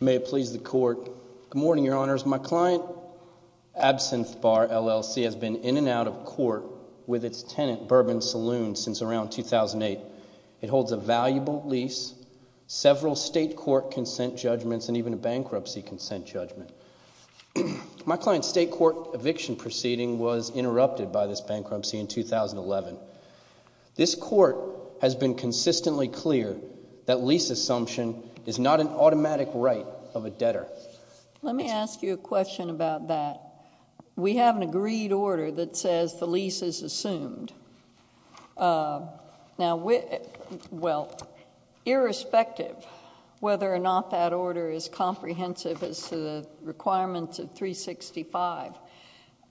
Good morning, Your Honors. My client, Absinthe Bar, LLC, has been in and out of court with its tenant, Bourbon Saloon, since around 2008. It holds a valuable lease, several state court consent judgments, and even a bankruptcy consent judgment. My client's state court eviction proceeding was interrupted by this bankruptcy in 2011. This court has been consistently clear that lease assumption is not an automatic right of a debtor. Let me ask you a question about that. We have an agreed order that says the lease is assumed. Now, well, irrespective whether or not that order is comprehensive as to the requirements of 365,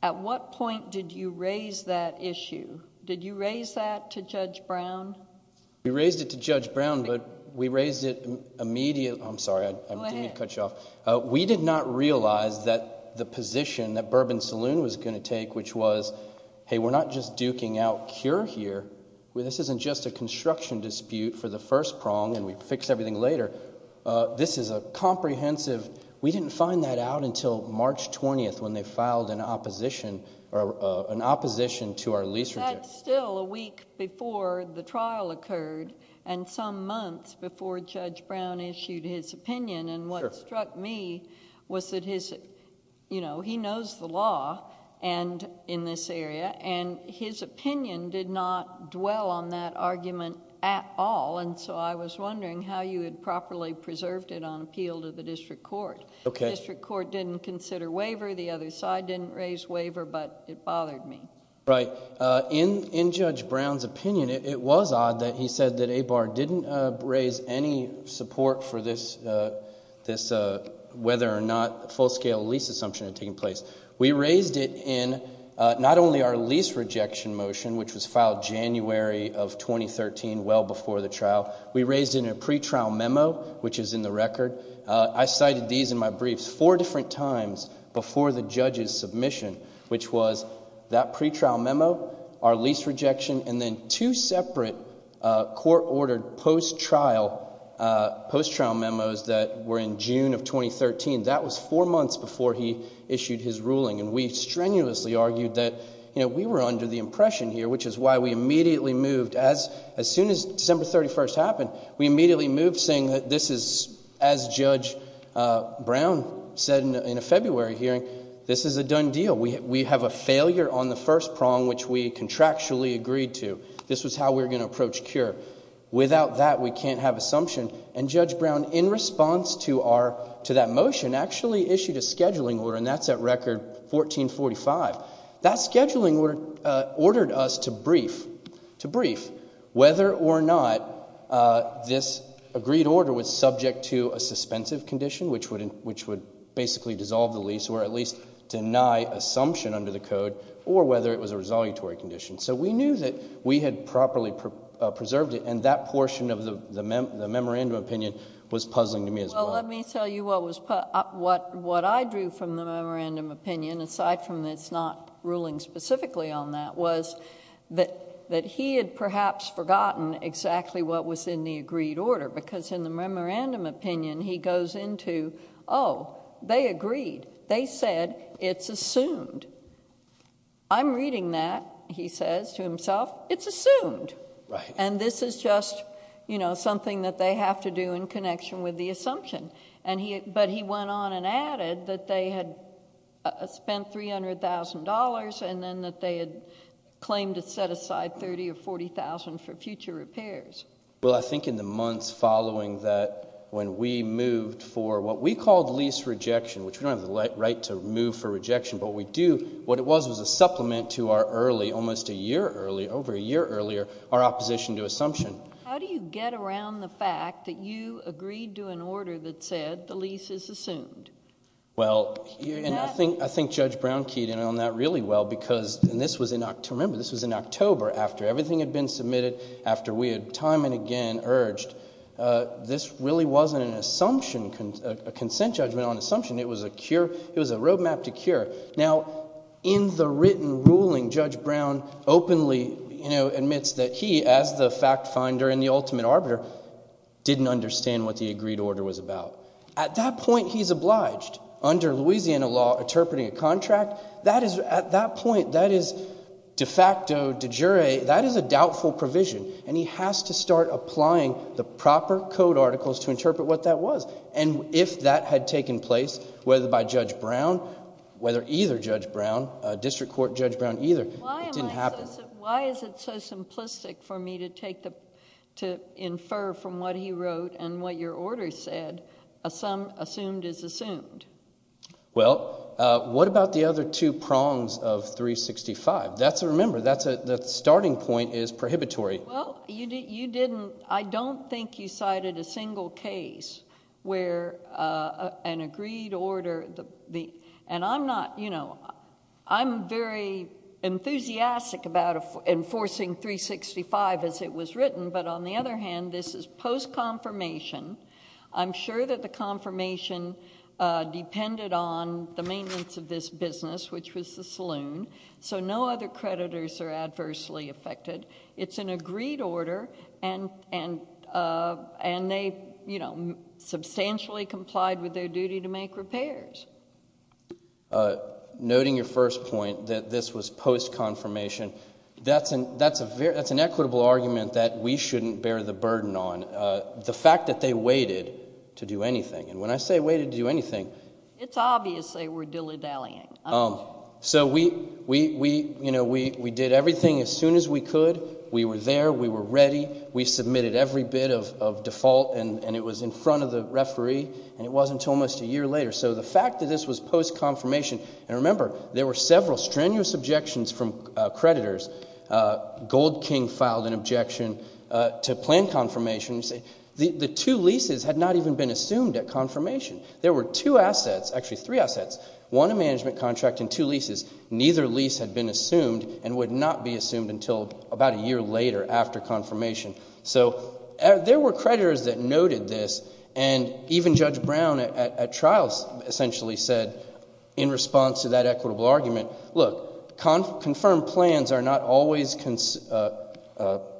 at what point did you raise that issue? Did you raise that to Judge Brown? We raised it to Judge Brown, but we raised it immediately... I'm sorry, I didn't mean to cut you off. Go ahead. We did not realize that the position that Bourbon Saloon was going to take, which was, hey, we're not just duking out cure here. This isn't just a construction dispute for the first prong, and we fix everything later. This is a comprehensive... we didn't find that out until March 20th when they filed an opposition to our lease... That's still a week before the trial occurred, and some months before Judge Brown issued his opinion. What struck me was that he knows the law in this area, and his opinion did not dwell on that argument at all. I was wondering how you had properly preserved it on appeal to the district court. Okay. The district court didn't consider waiver. The other side didn't raise waiver, but it bothered me. Right. In Judge Brown's opinion, it was odd that he said that ABAR didn't raise any support for this, whether or not full-scale lease assumption had taken place. We raised it in not only our lease rejection motion, which was filed January of 2013, well before the times before the judge's submission, which was that pretrial memo, our lease rejection, and then two separate court-ordered post-trial memos that were in June of 2013. That was four months before he issued his ruling, and we strenuously argued that we were under the impression here, which is why we immediately moved... as soon as December 31st happened, we immediately moved saying that this is, as Judge Brown said in a February hearing, this is a done deal. We have a failure on the first prong, which we contractually agreed to. This was how we were going to approach CURE. Without that, we can't have assumption, and Judge Brown, in response to that motion, actually issued a scheduling order, and that's at record 1445. That scheduling order ordered us to brief whether or not this agreed order was subject to a suspensive condition, which would basically dissolve the lease or at least deny assumption under the code, or whether it was a resolutory condition. So we knew that we had properly preserved it, and that portion of the memorandum opinion was puzzling to me as well. Well, let me tell you what I drew from the memorandum opinion, aside from it's not ruling specifically on that, was that he had perhaps forgotten exactly what was in the agreed order, because in the memorandum opinion, he goes into, oh, they agreed. They said it's assumed. I'm reading that, he says to himself, it's assumed, and this is just, you know, something that they have to do in connection with the assumption, but he went on and added that they had spent $300,000, and then that they had claimed to set aside $30,000 or $40,000 for future repairs. Well, I think in the months following that, when we moved for what we called lease rejection, which we don't have the right to move for rejection, but we do, what it was was a supplement to our early, almost a year early, over a year earlier, our opposition to assumption. How do you get around the fact that you agreed to an order that said the lease is assumed? Well, and I think Judge Brown keyed in on that really well, because, and this was in October, remember, this was in October, after everything had been submitted, after we had time and again urged, this really wasn't an assumption, a consent judgment on assumption. It was a roadmap to cure. Now, in the written ruling, Judge Brown openly, you know, admits that he, as the fact finder and the ultimate arbiter, didn't understand what the agreed order was about. At that point, he's obliged, under Louisiana law, interpreting a contract. That is, at that point, that is de facto, de jure, that is a doubtful provision, and he has to start applying the proper code articles to interpret what that was, and if that had taken place, whether by Judge Brown, whether either Judge Brown, District Court Judge Brown either, it didn't happen. Why is it so simplistic for me to take the, to infer from what he wrote and what your order said, a sum assumed is assumed? Well, what about the other two prongs of 365? That's a, remember, that's a, the starting point is prohibitory. Well, you didn't, I don't think you cited a single case where an agreed order, and I'm not, you know, I'm very enthusiastic about enforcing 365 as it was written, but on the other hand, this is post-confirmation. I'm sure that the confirmation depended on the maintenance of this business, which was the saloon, so no other creditors are adversely affected. It's an agreed order, and, and, and they, you know, substantially complied with their duty to make repairs. Noting your first point that this was post-confirmation, that's an, that's a very, that's an equitable argument that we shouldn't bear the burden on. The fact that they waited to do anything, and when I say waited to do anything. It's obvious they were dilly-dallying. So we, we, we, you know, we, we did everything as soon as we could. We were there. We were ready. We submitted every bit of, of default, and, and it was in front of the referee, and it wasn't until almost a year later. So the fact that this was post-confirmation, and remember, there were several strenuous objections from creditors. Gold King filed an objection to plan confirmation. The two leases had not even been assumed at confirmation. There were two assets, actually three assets, one a management contract and two leases. Neither lease had been assumed and would not be assumed until about a year later after confirmation. So there were creditors that noted this, and even Judge Brown at, at, at trials essentially said in response to that equitable argument, look, con, confirmed plans are not always cons,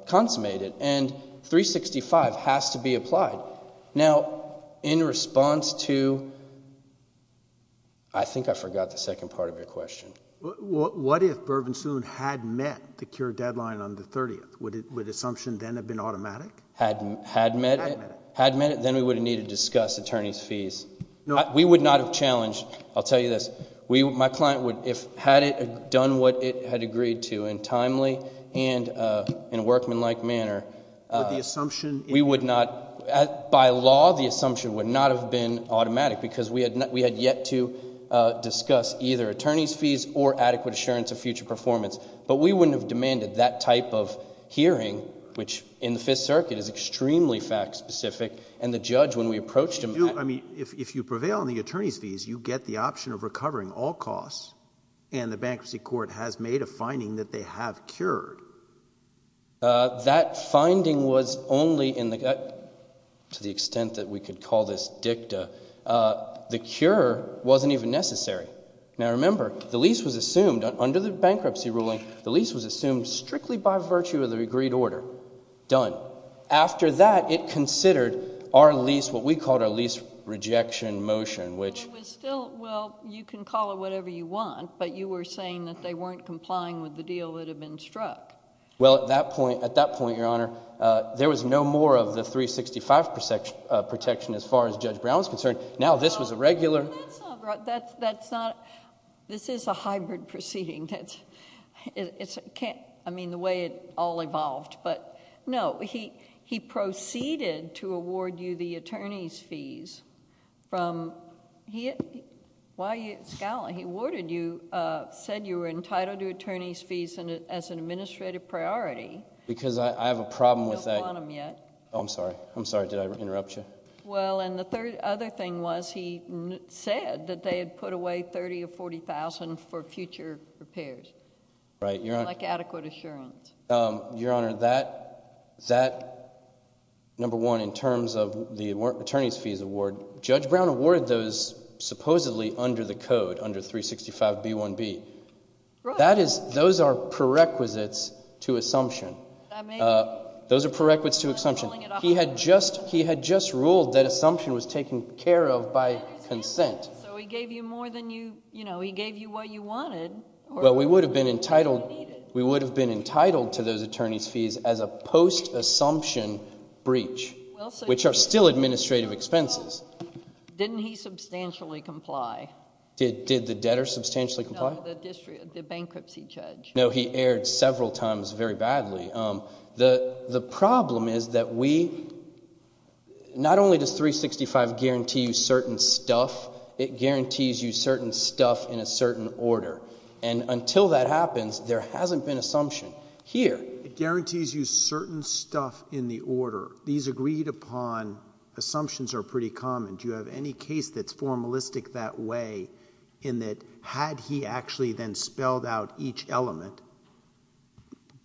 consummated, and 365 has to be applied. Now, in response to, I think I forgot the second part of your question. What if Bourbon Soon had met the cure deadline on the 30th? Would it, would assumption then have been automatic? Had, had met it. Had met it. Had met it, then we would have needed to discuss attorney's fees. No. We would not have challenged, I'll tell you this, we, my client would, if, had it done what it had agreed to in timely and in a workmanlike manner. Would the assumption? We would not, by law, the assumption would not have been automatic because we had not, we had yet to discuss either attorney's fees or adequate assurance of future performance. But we wouldn't have demanded that type of hearing, which in the Fifth Circuit is extremely fact specific, and the judge, when we approached him. You, I mean, if, if you prevail on the attorney's fees, you get the option of recovering all costs and the bankruptcy court has made a finding that they have cured. That finding was only in the, to the extent that we could call this dicta, the cure wasn't even necessary. Now, remember, the lease was assumed, under the bankruptcy ruling, the lease was assumed strictly by virtue of the agreed order, done. After that, it considered our lease, what we called our lease rejection motion, which was still, well, you can call it whatever you want, but you were saying that they weren't complying with the deal that had been struck. Well, at that point, at that point, Your Honor, there was no more of the 365 protection as far as Judge Brown is concerned. Now this was a regular... That's not, that's not, this is a hybrid proceeding. It's, I mean, the way it all evolved, but no, he, he proceeded to award you the attorney's fees from, he, why you, he awarded you, said you were entitled to attorney's fees as an administrative priority. Because I have a problem with that... You don't want them yet. Oh, I'm sorry. I'm sorry. Did I interrupt you? Well, and the third other thing was he said that they had put away thirty or forty thousand for future repairs, like adequate assurance. Your Honor, that, that, number one, in terms of the attorney's fees award, Judge Brown awarded those supposedly under the code, under 365B1B. That is, those are prerequisites to assumption. Those are prerequisites to assumption. He had just, he had just ruled that assumption was taken care of by consent. So he gave you more than you, you know, he gave you what you wanted. Well, we would have been entitled, we would have been entitled to those attorney's fees as a post-assumption breach, which are still administrative expenses. Didn't he substantially comply? Did the debtor substantially comply? No, the bankruptcy judge. No, he erred several times very badly. The problem is that we, not only does 365 guarantee you certain stuff, it guarantees you certain stuff in a certain order. And until that happens, there hasn't been assumption here. It guarantees you certain stuff in the order. These agreed upon assumptions are pretty common. Do you have any case that's formalistic that way in that had he actually then spelled out each element,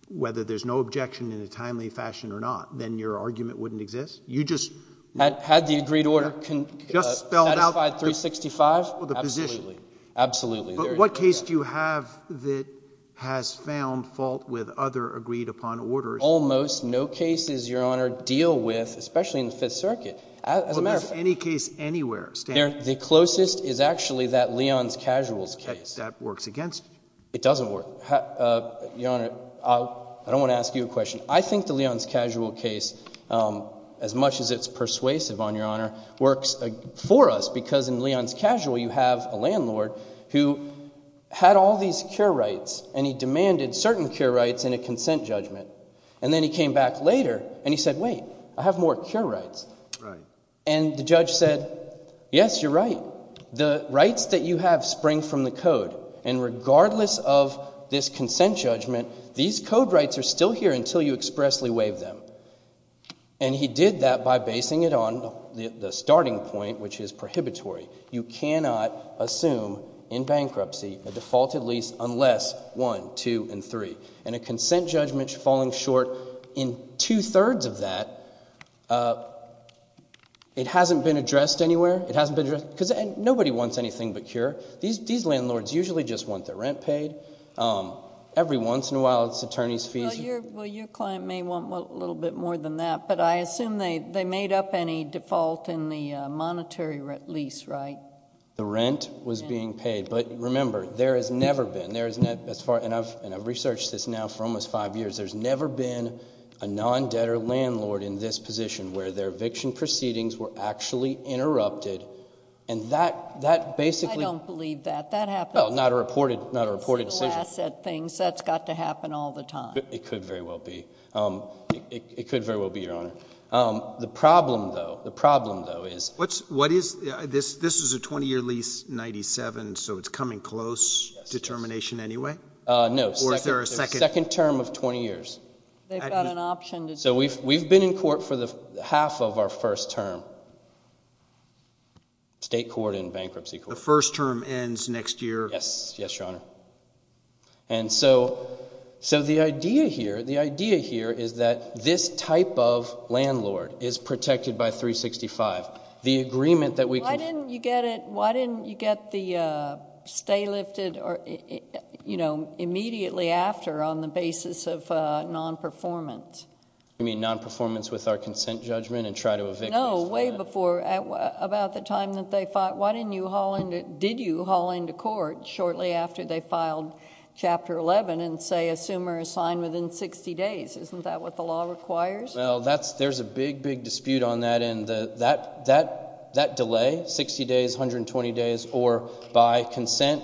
whether there's no objection in a timely fashion or not, then your argument wouldn't exist? You just. Had the agreed order satisfied 365? Absolutely. Absolutely. But what case do you have that has found fault with other agreed upon orders? Almost. No cases, Your Honor, deal with, especially in the Fifth Circuit. As a matter of fact. Well, there's any case anywhere. The closest is actually that Leon's Casuals case. That works against you? It doesn't work. Your Honor, I don't want to ask you a question. I think the Leon's Casual case, as much as it's persuasive on Your Honor, works for us because in Leon's Casual you have a landlord who had all these cure rights and he demanded certain cure rights in a consent judgment. And then he came back later and he said, wait, I have more cure rights. And the judge said, yes, you're right. The rights that you have spring from the code. And regardless of this consent judgment, these code rights are still here until you expressly waive them. And he did that by basing it on the starting point, which is prohibitory. You cannot assume in bankruptcy a defaulted lease unless 1, 2, and 3. And a consent judgment falling short in two-thirds of that, it hasn't been addressed anywhere. It hasn't been addressed because nobody wants anything but cure. These landlords usually just want their rent paid. Every once in a while it's attorney's fees. Well, your client may want a little bit more than that. But I assume they made up any default in the monetary lease, right? The rent was being paid. But remember, there has never been, and I've researched this now for almost five years, there's never been a non-debtor landlord in this position where their eviction proceedings were actually interrupted. And that basically- I don't believe that. That happens- Well, not a reported decision. Asset things, that's got to happen all the time. It could very well be. It could very well be, Your Honor. The problem, though, the problem, though, is- What is- this is a 20-year lease, 97, so it's coming close determination anyway? No, second term of 20 years. They've got an option to- So we've been in court for the half of our first term, state court and bankruptcy court. The first term ends next year. Yes, yes, Your Honor. And so the idea here, the idea here is that this type of landlord is protected by 365. The agreement that we can- Why didn't you get it, why didn't you get the stay lifted or, you know, immediately after on the basis of non-performance? You mean non-performance with our consent judgment and try to evict- No, way before, about the time that they fought. Why didn't you haul into- did you haul into court shortly after they filed Chapter 11 and say assume or assign within 60 days? Isn't that what the law requires? Well, that's- there's a big, big dispute on that end. That delay, 60 days, 120 days, or by consent,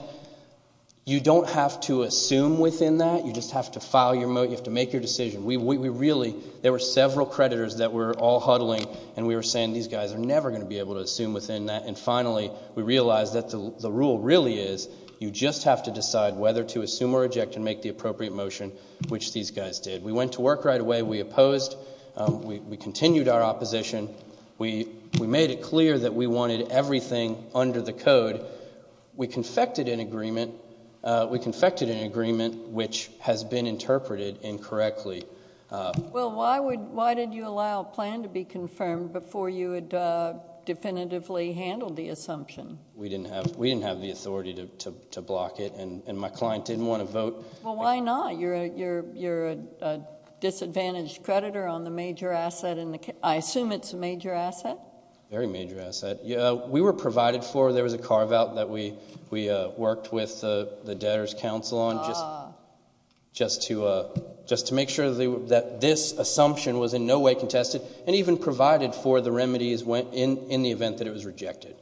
you don't have to assume within that. You just have to file your- you have to make your decision. We really- there were several creditors that were all huddling and we were saying, these guys are never going to be able to assume within that, and finally, we realized that the rule really is, you just have to decide whether to assume or reject and make the appropriate motion, which these guys did. We went to work right away, we opposed, we continued our opposition, we made it clear that we wanted everything under the code. We confected an agreement, we confected an agreement which has been interpreted incorrectly. Well, why did you allow a plan to be confirmed before you had definitively handled the assumption? We didn't have the authority to block it, and my client didn't want to vote. Well, why not? You're a disadvantaged creditor on the major asset, and I assume it's a major asset? Very major asset. We were provided for, there was a carve out that we worked with the debtors council on, just to make sure that this assumption was in no way contested, and even provided for the remedies in the event that it was rejected.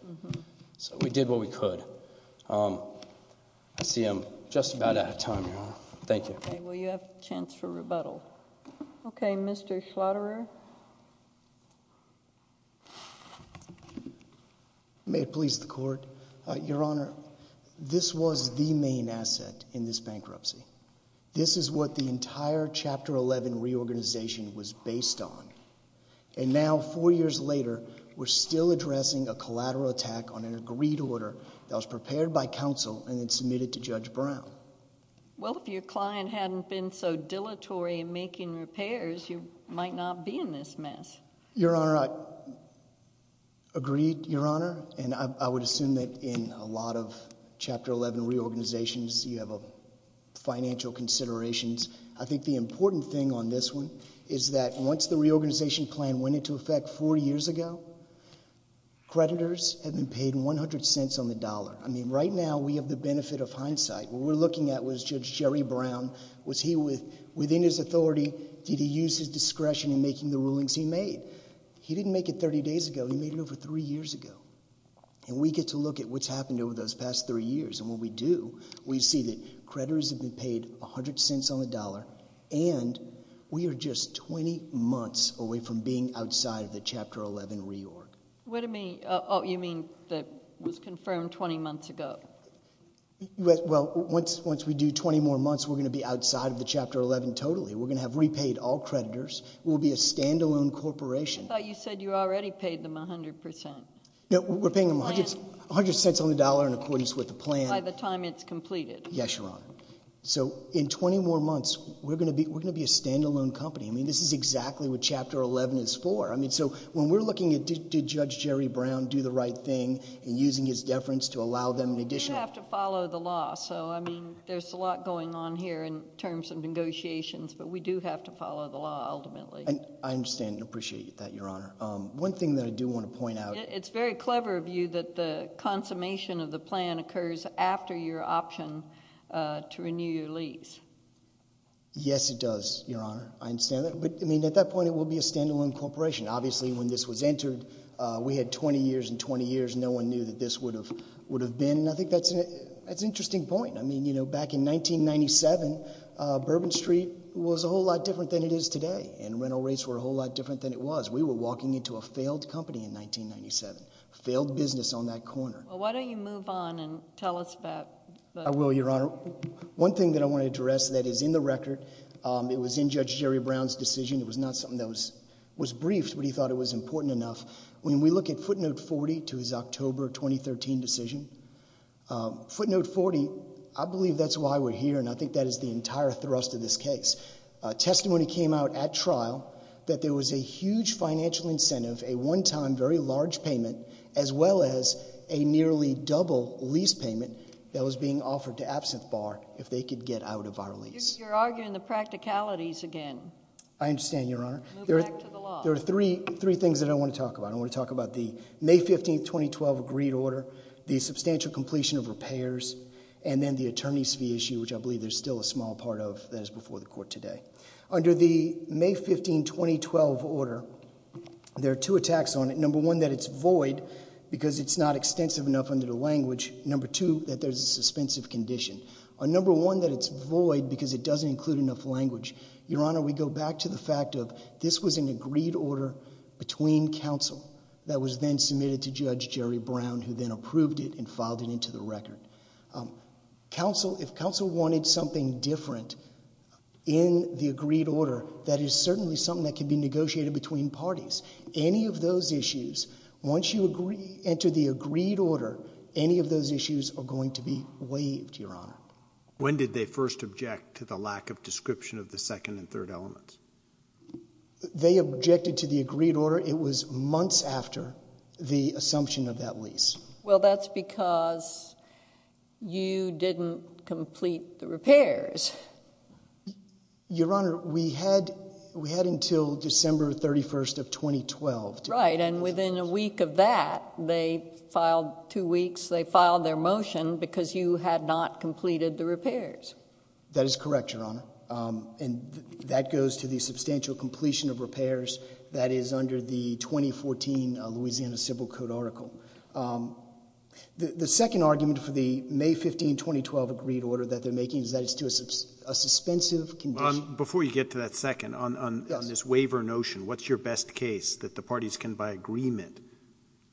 So we did what we could. I see I'm just about out of time, Your Honor. Thank you. Okay, well you have a chance for rebuttal. May it please the court. Your Honor, this was the main asset in this bankruptcy. This is what the entire Chapter 11 reorganization was based on. And now, four years later, we're still addressing a collateral attack on an agreed order that was prepared by counsel and then submitted to Judge Brown. Well, if your client hadn't been so dilatory in making repairs, you might not be in this mess. Your Honor, I agreed, Your Honor. And I would assume that in a lot of Chapter 11 reorganizations, you have financial considerations. I think the important thing on this one is that once the reorganization plan went into effect four years ago, creditors have been paid 100 cents on the dollar. I mean, right now we have the benefit of hindsight. What we're looking at was Judge Jerry Brown. Was he within his authority? Did he use his discretion in making the rulings he made? He didn't make it 30 days ago. He made it over three years ago. And we get to look at what's happened over those past three years. And when we do, we see that creditors have been paid 100 cents on the dollar, and we are just 20 months away from being outside of the Chapter 11 reorg. What do you mean, you mean that was confirmed 20 months ago? Well, once we do 20 more months, we're going to be outside of the Chapter 11 totally. We're going to have repaid all creditors. We'll be a standalone corporation. I thought you said you already paid them 100 percent. No, we're paying them 100 cents on the dollar in accordance with the plan. By the time it's completed. Yes, Your Honor. So in 20 more months, we're going to be a standalone company. I mean, this is exactly what Chapter 11 is for. I mean, so when we're looking at did Judge Jerry Brown do the right thing in using his deference to allow them an additional. You have to follow the law. So, I mean, there's a lot going on here in terms of negotiations, but we do have to follow the law ultimately. And I understand and appreciate that, Your Honor. One thing that I do want to point out. It's very clever of you that the consummation of the plan occurs after your option to renew your lease. Yes, it does, Your Honor. I understand that. But I mean, at that point, it will be a standalone corporation. Obviously, when this was entered, we had 20 years and 20 years and no one knew that this would have would have been. And I think that's an interesting point. I mean, you know, back in 1997, Bourbon Street was a whole lot different than it is today. And rental rates were a whole lot different than it was. We were walking into a failed company in 1997. Failed business on that corner. Well, why don't you move on and tell us that? I will, Your Honor. One thing that I want to address that is in the record. It was in Judge Jerry Brown's decision. It was not something that was was briefed, but he thought it was important enough. When we look at footnote 40 to his October 2013 decision, footnote 40, I believe that's why we're here. And I think that is the entire thrust of this case. Testimony came out at trial that there was a huge financial incentive, a one time very large payment, as well as a nearly double lease payment that was being offered to Absinthe Bar if they could get out of our lease. You're arguing the practicalities again. I understand, Your Honor. There are three things that I want to talk about. I want to talk about the May 15, 2012 agreed order, the substantial completion of repairs and then the attorney's fee issue, which I believe there's still a small part of that is before the court today. Under the May 15, 2012 order, there are two attacks on it. Number one, that it's void because it's not extensive enough under the language. Number two, that there's a suspensive condition. On number one, that it's void because it doesn't include enough language. Your Honor, we go back to the fact of this was an agreed order between counsel that was then submitted to Judge Jerry Brown, who then approved it and filed it into the record. Counsel, if counsel wanted something different in the agreed order, that is certainly something that could be negotiated between parties. Any of those issues, once you enter the agreed order, any of those issues are going to be waived, Your Honor. When did they first object to the lack of description of the second and third elements? They objected to the agreed order. It was months after the assumption of that lease. Well, that's because you didn't complete the repairs. Your Honor, we had we had until December 31st of 2012. Right. And within a week of that, they filed two weeks. They filed their motion because you had not completed the repairs. That is correct, Your Honor. And that goes to the substantial completion of repairs. That is under the 2014 Louisiana Civil Code article. The second argument for the May 15, 2012 agreed order that they're making is that it's to a suspensive condition. Before you get to that second on this waiver notion, what's your best case that the parties can, by agreement,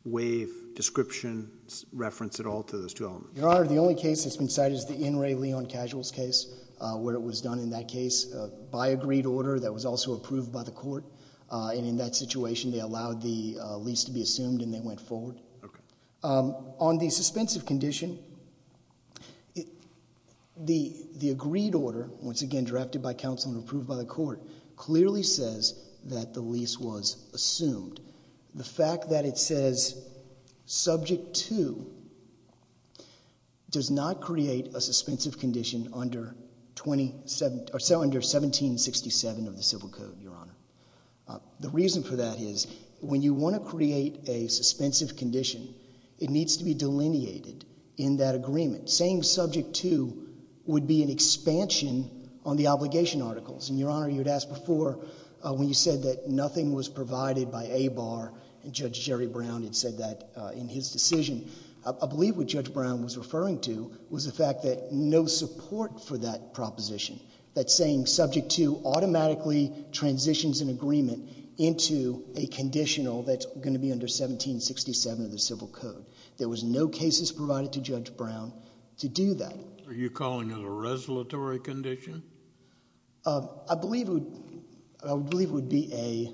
waive description, reference at all to those two elements? Your Honor, the only case that's been cited is the In Re Leon Casuals case, where it was done in that case by agreed order that was also approved by the court. And in that situation, they allowed the lease to be assumed and they went forward. On the suspensive condition, the the agreed order, once again, drafted by counsel and approved by the court, clearly says that the lease was assumed. The fact that it says subject to does not create a suspensive condition under 27, or so under 1767 of the Civil Code, Your Honor. The reason for that is when you want to create a suspensive condition, it needs to be delineated in that agreement. Saying subject to would be an expansion on the obligation articles. And Your Honor, you'd asked before when you said that nothing was provided by ABAR, and Judge Jerry Brown had said that in his decision. I believe what Judge Brown was referring to was the fact that no support for that proposition, that saying subject to automatically transitions an agreement into a conditional that's going to be under 1767 of the Civil Code. There was no cases provided to Judge Brown to do that. Are you calling it a resolatory condition? I believe it would be a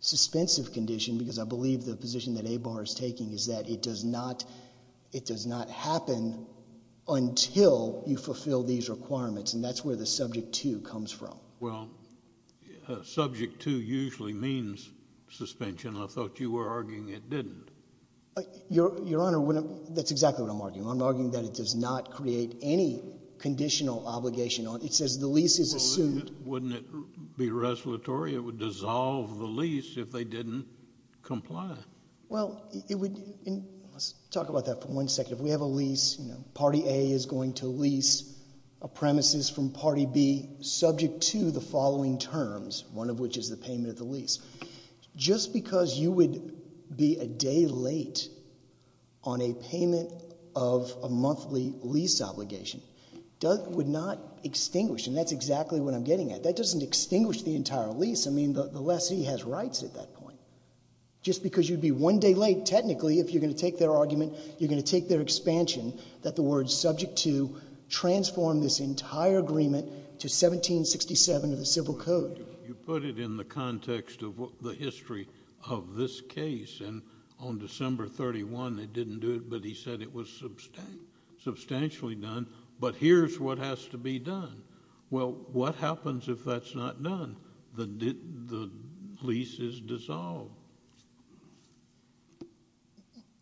suspensive condition because I believe the position that ABAR is taking is that it does not it does not happen until you fulfill these requirements. And that's where the subject to comes from. Well, subject to usually means suspension. I thought you were arguing it didn't. Your Honor, that's exactly what I'm arguing. I'm arguing that it does not create any conditional obligation. It says the lease is assumed. Wouldn't it be resolutory? It would dissolve the lease if they didn't comply. Well, it would talk about that for one second. If we have a lease, you know, Party A is going to lease a premises from Party B subject to the following terms, one of which is the payment of the lease. Just because you would be a day late on a payment of a monthly lease obligation would not extinguish. And that's exactly what I'm getting at. That doesn't extinguish the entire lease. I mean, the lessee has rights at that point just because you'd be one day late, technically, if you're going to take their argument, you're going to take their expansion that the word subject to transform this entire agreement to 1767 of the Civil Code. You put it in the context of the history of this case. And on December 31, they didn't do it, but he said it was substantially done. But here's what has to be done. Well, what happens if that's not done? The lease is dissolved.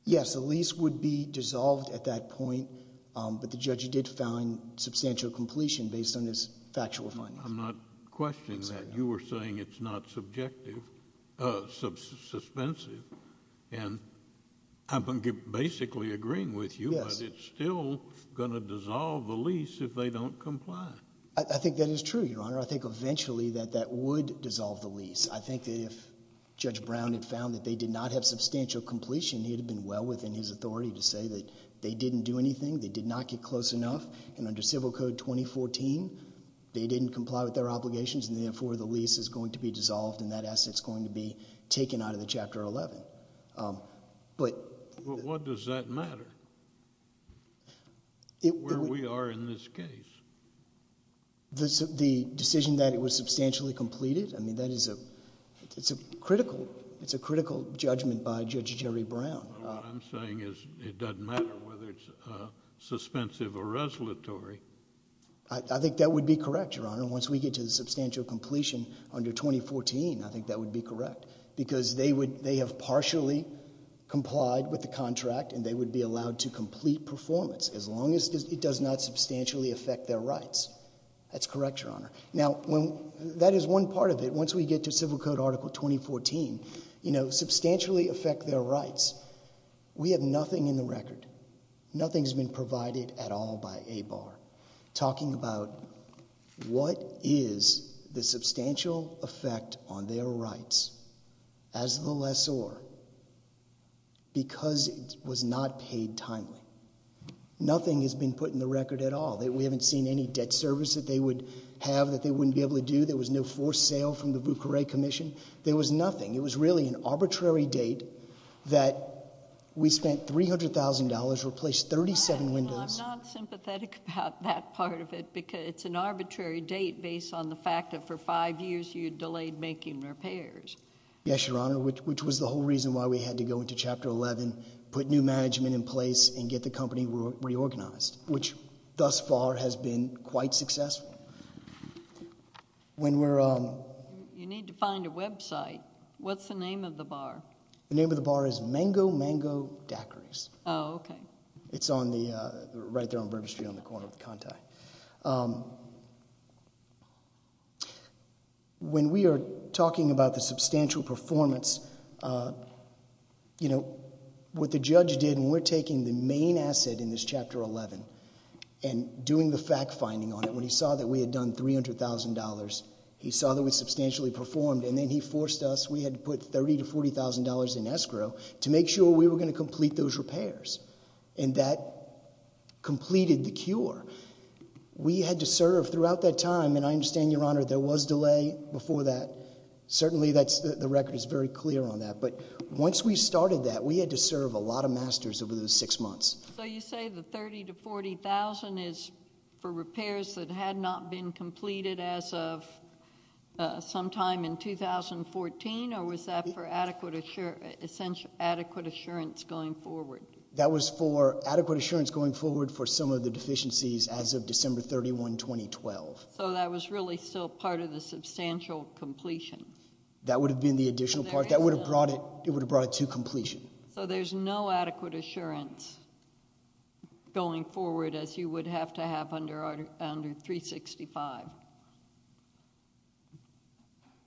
Yes, the lease would be dissolved at that point, but the judge did found substantial completion based on this factual finding. I'm not questioning that. You were saying it's not subjective, substantive, and I'm basically agreeing with you. It's still going to dissolve the lease if they don't comply. I think that is true, Your Honor. I think eventually that that would dissolve the lease. I think if Judge Brown had found that they did not have substantial completion, he'd have been well within his authority to say that they didn't do anything. They did not get close enough. And under Civil Code 2014, they didn't comply with their obligations. And therefore, the lease is going to be dissolved and that asset's going to be taken out of the Chapter 11. But what does that matter? Where we are in this case. The decision that it was substantially completed, I mean, that is a critical judgment by Judge Jerry Brown. What I'm saying is it doesn't matter whether it's suspensive or resolutory. I think that would be correct, Your Honor. Once we get to the substantial completion under 2014, I think that would be correct because they have partially complied with the contract and they would be allowed to complete performance as long as it does not substantially affect their rights. That's correct, Your Honor. Now, when that is one part of it, once we get to Civil Code Article 2014, you know, substantially affect their rights. We have nothing in the record. Nothing has been provided at all by ABAR talking about what is the substantial effect on their rights as the lessor because it was not paid timely. Nothing has been put in the record at all. We haven't seen any debt service that they would have that they wouldn't be able to do. There was no forced sale from the Bucure Commission. There was nothing. It was really an arbitrary date that we spent $300,000, replaced 37 windows. I'm not sympathetic about that part of it because it's an arbitrary date based on the fact that for five years you delayed making repairs. Yes, Your Honor, which was the whole reason why we had to go into Chapter 11, put new management in place and get the company reorganized, which thus far has been quite successful. When we're on, you need to find a website. What's the name of the bar? The name of the bar is Mango Mango Daiquiris. Oh, OK. It's on the right there on Bourbon Street on the corner of the Conti. When we are talking about the substantial performance, you know, what the judge did when we're taking the main asset in this Chapter 11 and doing the fact finding on it, when he saw that we had done $300,000, he saw that we substantially performed and then he forced us, we had to put $30,000 to $40,000 in escrow to make sure we were going to complete those repairs and that completed the cure. We had to serve throughout that time. And I understand, Your Honor, there was delay before that. Certainly, that's the record is very clear on that. But once we started that, we had to serve a lot of masters over the six months. So you say the 30 to 40,000 is for repairs that had not been completed as of sometime in 2014? Or was that for adequate, essential, adequate assurance going forward? That was for adequate assurance going forward for some of the deficiencies as of December 31, 2012. So that was really still part of the substantial completion. That would have been the additional part that would have brought it. It would have brought it to completion. So there's no adequate assurance. Going forward, as you would have to have under under 365.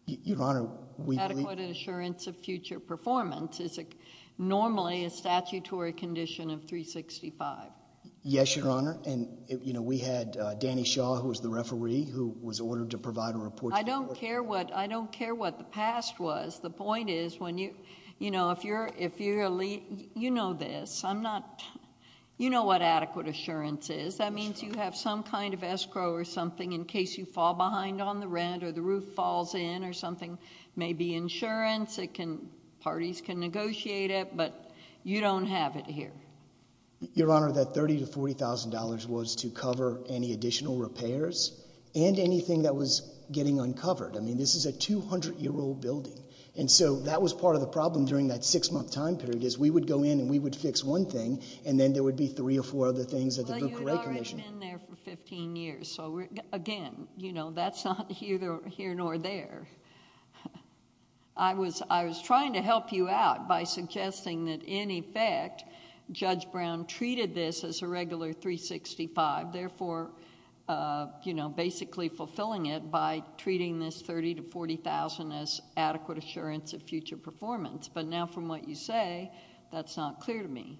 Your Honor, we had an assurance of future performance is normally a statutory condition of 365. Yes, Your Honor. And, you know, we had Danny Shaw, who was the referee, who was ordered to provide a report. I don't care what I don't care what the past was. The point is, when you you know, if you're if you're elite, you know this. I'm not you know what adequate assurance is. That means you have some kind of escrow or something in case you fall behind on the rent or the roof falls in or something. Maybe insurance. It can parties can negotiate it, but you don't have it here. Your Honor, that 30 to 40 thousand dollars was to cover any additional repairs and anything that was getting uncovered. I mean, this is a 200 year old building. And so that was part of the problem during that six month time period is we would go in and we would fix one thing. And then there would be three or four other things that the commission in there for 15 years. So, again, you know, that's not either here nor there. I was I was trying to help you out by suggesting that, in effect, Judge Brown treated this as a regular 365, therefore, you know, basically fulfilling it by treating this 30 to 40 thousand as adequate assurance of future performance. But now, from what you say, that's not clear to me.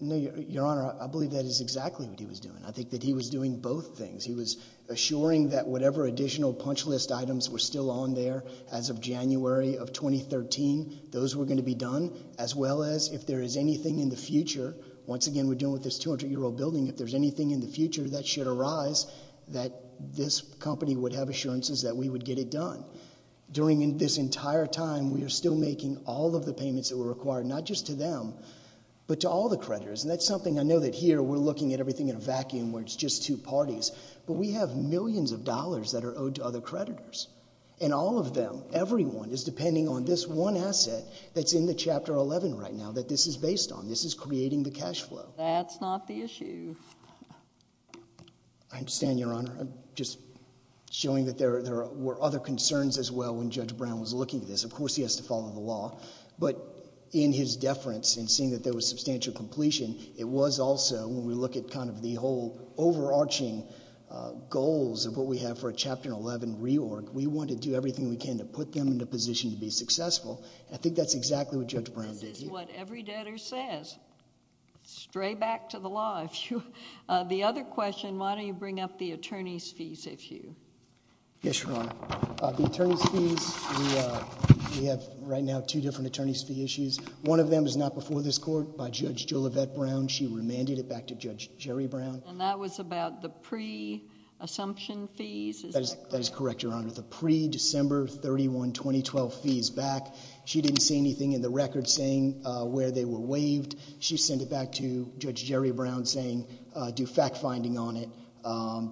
No, Your Honor, I believe that is exactly what he was doing. I think that he was doing both things. He was assuring that whatever additional punch list items were still on there as of January of 2013, those were going to be done, as well as if there is anything in the future. Once again, we're dealing with this 200 year old building. If there's anything in the future that should arise, that this company would have assurances that we would get it done during this entire time. We are still making all of the payments that were required, not just to them, but to all the creditors. And that's something I know that here we're looking at everything in a vacuum where it's just two parties. But we have millions of dollars that are owed to other creditors and all of them. Everyone is depending on this one asset that's in the Chapter 11 right now that this is based on. This is creating the cash flow. That's not the issue. I understand, Your Honor. I'm just showing that there were other concerns as well when Judge Brown was looking at this. Of course, he has to follow the law. But in his deference and seeing that there was substantial completion, it was also when we look at kind of the whole overarching goals of what we have for a Chapter 11 reorg, we want to do everything we can to put them in a position to be successful. And I think that's exactly what Judge Brown did. This is what every debtor says. Stray back to the law, if you. The other question, why don't you bring up the attorney's fees, if you? Yes, Your Honor. The attorney's fees, we have right now two different attorney's fee issues. One of them is not before this court by Judge Jolivette Brown. She remanded it back to Judge Jerry Brown. And that was about the pre-assumption fees? That is correct, Your Honor. The pre-December 31, 2012 fees back. She didn't see anything in the record saying where they were waived. She sent it back to Judge Jerry Brown saying do fact finding on it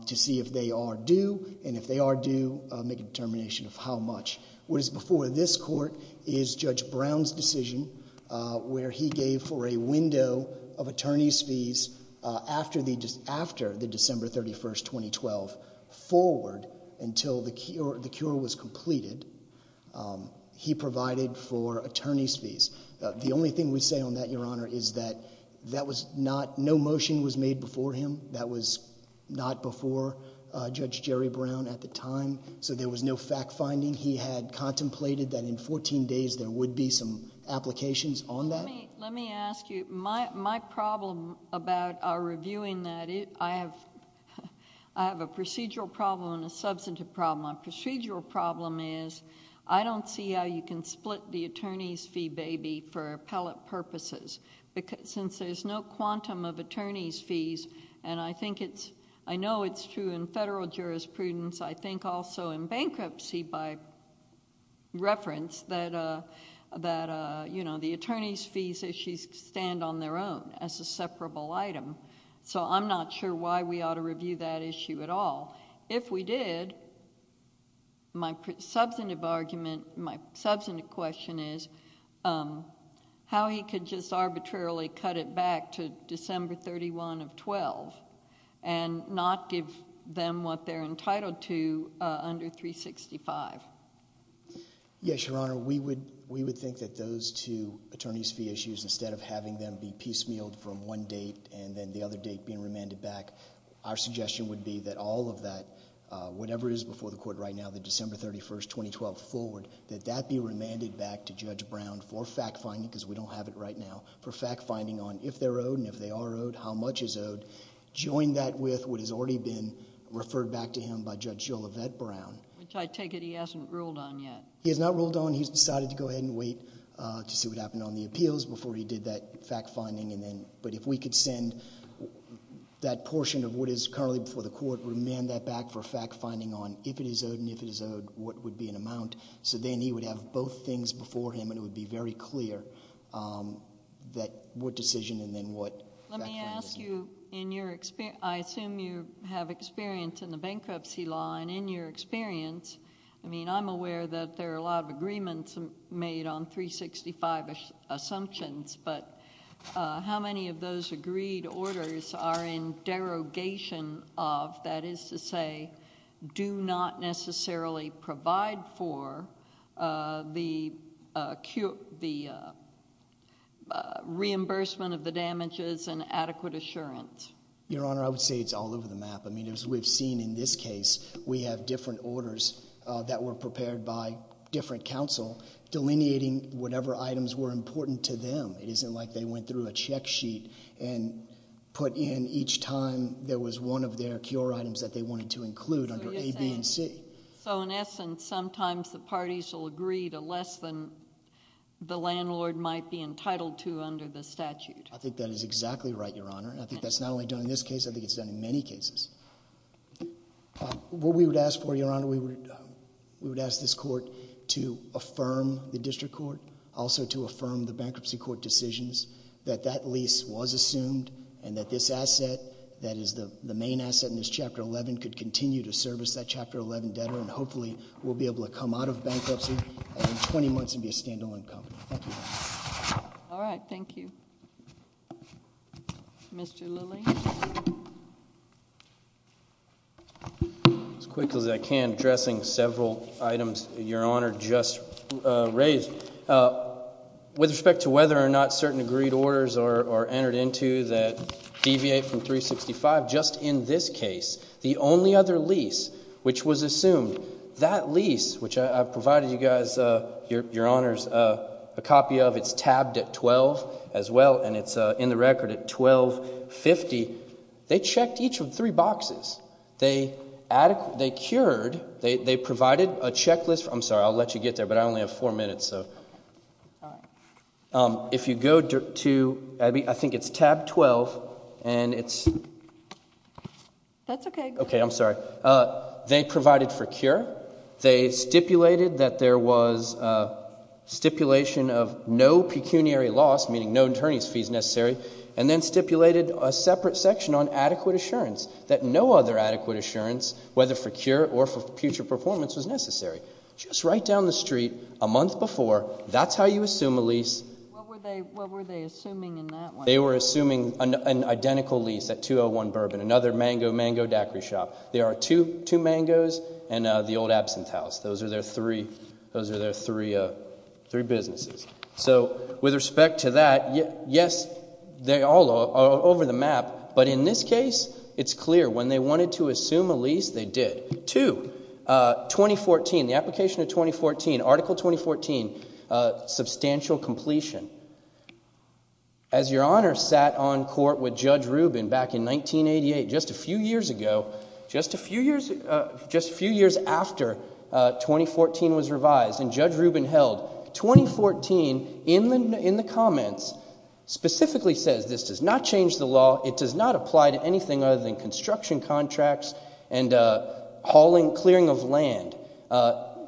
to see if they are due. And if they are due, make a determination of how much. What is before this court is Judge Brown's decision where he gave for a window of attorney's fees after the December 31, 2012 forward until the cure was completed. He provided for attorney's fees. The only thing we say on that, Your Honor, is that that was not no motion was made before him. That was not before Judge Jerry Brown at the time. So there was no fact finding. He had contemplated that in 14 days there would be some applications on that. Let me ask you, my problem about reviewing that, I have a procedural problem and a substantive problem. My procedural problem is I don't see how you can split the attorney's fee baby for appellate purposes since there's no quantum of attorney's fees. And I think it's I know it's true in federal jurisprudence. I think also in bankruptcy, by the way, that these issues stand on their own as a separable item. So I'm not sure why we ought to review that issue at all. If we did. My substantive argument, my substantive question is how he could just arbitrarily cut it back to December 31 of 12 and not give them what they're entitled to under 365. Yes, Your Honor, we would we would think that those two attorney's fee issues, instead of having them be piecemealed from one date and then the other date being remanded back, our suggestion would be that all of that, whatever is before the court right now, the December 31st, 2012 forward, that that be remanded back to Judge Brown for fact finding, because we don't have it right now for fact finding on if they're owed and if they are owed, how much is owed. Join that with what has already been referred back to him by Judge Gillibrand, which I take it he hasn't ruled on yet. He has not ruled on. He's decided to go ahead and wait to see what happened on the appeals before he did that fact finding. And then but if we could send that portion of what is currently before the court, remand that back for fact finding on if it is owed and if it is owed, what would be an amount. So then he would have both things before him and it would be very clear that what decision and then what. Let me ask you in your experience, I assume you have experience in the bankruptcy law and in your experience. I mean, I'm aware that there are a lot of agreements made on 365 assumptions, but how many of those agreed orders are in derogation of, that is to say, do not necessarily provide for the reimbursement of the damages and adequate assurance? Your Honor, I would say it's all over the map. I mean, as we've seen in this case, we have different orders that were prepared by different counsel delineating whatever items were important to them. It isn't like they went through a check sheet and put in each time there was one of their cure items that they wanted to include under A, B, and C. So in essence, sometimes the parties will agree to less than the landlord might be entitled to under the statute. I think that is exactly right, Your Honor. And I think that's not only done in this case. I think it's done in many cases. What we would ask for, Your Honor, we would ask this court to affirm the district court, also to affirm the bankruptcy court decisions that that lease was assumed and that this asset, that is the main asset in this Chapter 11, could continue to service that Chapter 11 debtor and hopefully we'll be able to come out of bankruptcy in 20 months and be a standalone company. Thank you. All right. Thank you. Mr. Lilly. As quickly as I can, addressing several items Your Honor just raised. With respect to whether or not certain agreed orders are entered into that deviate from 365, just in this case, the only other lease which was assumed, that lease, which I've provided you guys, Your Honors, a copy of, it's tabbed at 12 as well, and it's in the record at 1250. They checked each of the three boxes. They cured, they provided a checklist. I'm sorry, I'll let you get there, but I only have four minutes. If you go to, Abby, I think it's tab 12, and it's. That's okay. Okay, I'm sorry. They provided for cure. They stipulated that there was stipulation of no pecuniary loss, meaning no attorney's necessary, and then stipulated a separate section on adequate assurance, that no other adequate assurance, whether for cure or for future performance, was necessary. Just right down the street, a month before, that's how you assume a lease. What were they assuming in that one? They were assuming an identical lease at 201 Bourbon, another mango daiquiri shop. There are two mangoes and the old absinthe house. Those are their three businesses. With respect to that, yes, they all are over the map, but in this case, it's clear. When they wanted to assume a lease, they did. Two, 2014, the application of 2014, Article 2014, substantial completion. As Your Honor sat on court with Judge Rubin back in 1988, just a few years ago, just a few years after 2014 was revised, and Judge Rubin held. 2014, in the comments, specifically says this does not change the law, it does not apply to anything other than construction contracts and hauling, clearing of land.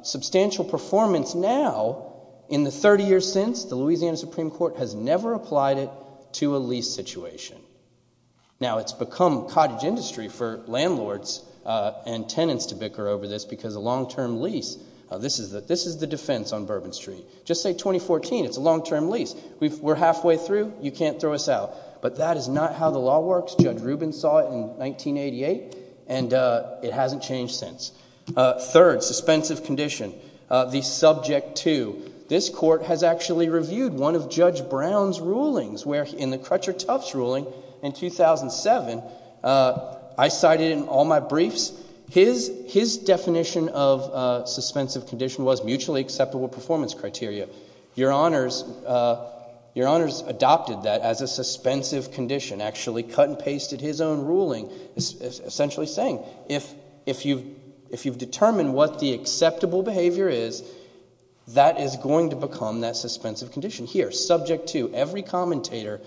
Substantial performance now, in the 30 years since, the Louisiana Supreme Court has never applied it to a lease situation. Now, it's become cottage industry for landlords and tenants to bicker over this because a Just say 2014, it's a long-term lease. We're halfway through, you can't throw us out. But that is not how the law works. Judge Rubin saw it in 1988, and it hasn't changed since. Third, suspensive condition, the subject to. This court has actually reviewed one of Judge Brown's rulings, where in the Crutcher-Tufts ruling in 2007, I cited in all my briefs, his definition of suspensive condition was mutually acceptable performance criteria. Your Honors adopted that as a suspensive condition, actually cut and pasted his own ruling, essentially saying if you've determined what the acceptable behavior is, that is going to become that suspensive condition. Here, subject to, every commentator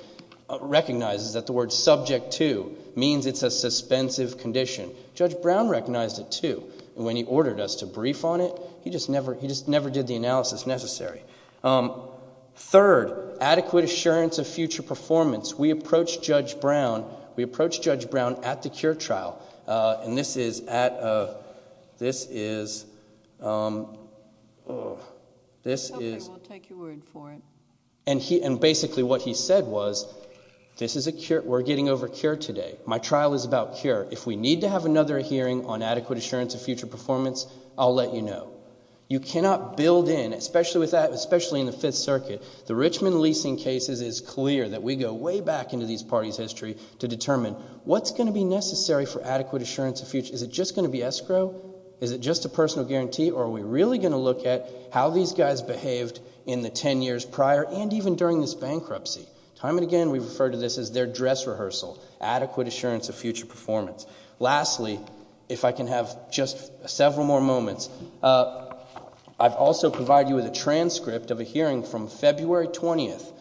recognizes that the word subject to means it's a suspensive condition. Judge Brown recognized it, too. When he ordered us to brief on it, he just never did the analysis necessary. Third, adequate assurance of future performance. We approached Judge Brown at the Cure Trial, and this is at a, this is, this is, and basically what he said was, this is a, we're getting over Cure today. My trial is about Cure. If we need to have another hearing on adequate assurance of future performance, I'll let you know. You cannot build in, especially with that, especially in the Fifth Circuit. The Richmond leasing cases, it's clear that we go way back into these parties' history to determine what's going to be necessary for adequate assurance of future, is it just going to be escrow? Is it just a personal guarantee, or are we really going to look at how these guys behaved in the ten years prior, and even during this bankruptcy? Time and again, we refer to this as their dress rehearsal, adequate assurance of future performance. Lastly, if I can have just several more moments, I've also provided you with a transcript of a hearing from February 20th.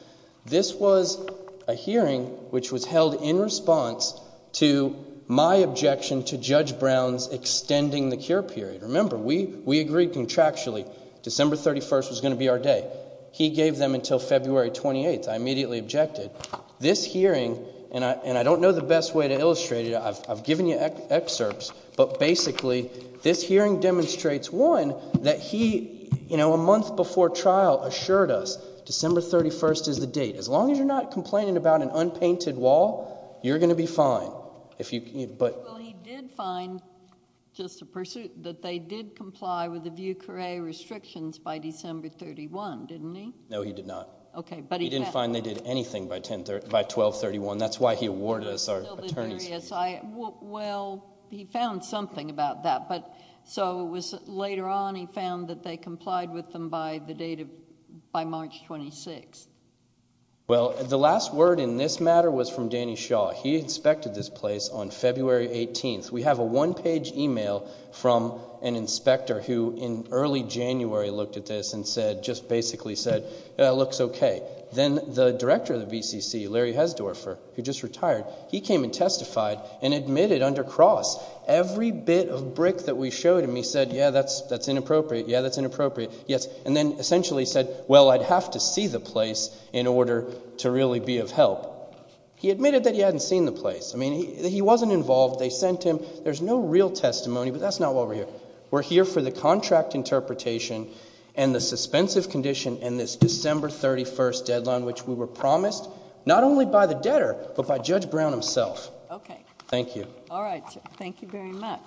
This was a hearing which was held in response to my objection to Judge Brown's extending the Cure period. Remember, we, we agreed contractually December 31st was going to be our day. He gave them until February 28th. I immediately objected. This hearing, and I, and I don't know the best way to illustrate it. I've, I've given you excerpts, but basically, this hearing demonstrates, one, that he, you know, a month before trial assured us December 31st is the date. As long as you're not complaining about an unpainted wall, you're going to be fine. If you, but... Well, he did find, just to pursue, that they did comply with the Vieux Carre restrictions by December 31, didn't he? No, he did not. Okay, but he... By 1231. That's why he awarded us our attorneys. Well, he found something about that, but, so it was later on he found that they complied with them by the date of, by March 26th. Well, the last word in this matter was from Danny Shaw. He inspected this place on February 18th. We have a one-page email from an inspector who, in early January, looked at this and said, just basically said, yeah, it looks okay. Then the director of the BCC, Larry Hesdorfer, who just retired, he came and testified and admitted under Cross every bit of brick that we showed him. He said, yeah, that's, that's inappropriate. Yeah, that's inappropriate. Yes, and then essentially said, well, I'd have to see the place in order to really be of help. He admitted that he hadn't seen the place. I mean, he wasn't involved. They sent him. There's no real testimony, but that's not why we're here. We're here for the contract interpretation and the suspensive condition in this December 31st deadline, which we were promised not only by the debtor, but by Judge Brown himself. Okay. Thank you. All right. Thank you very much.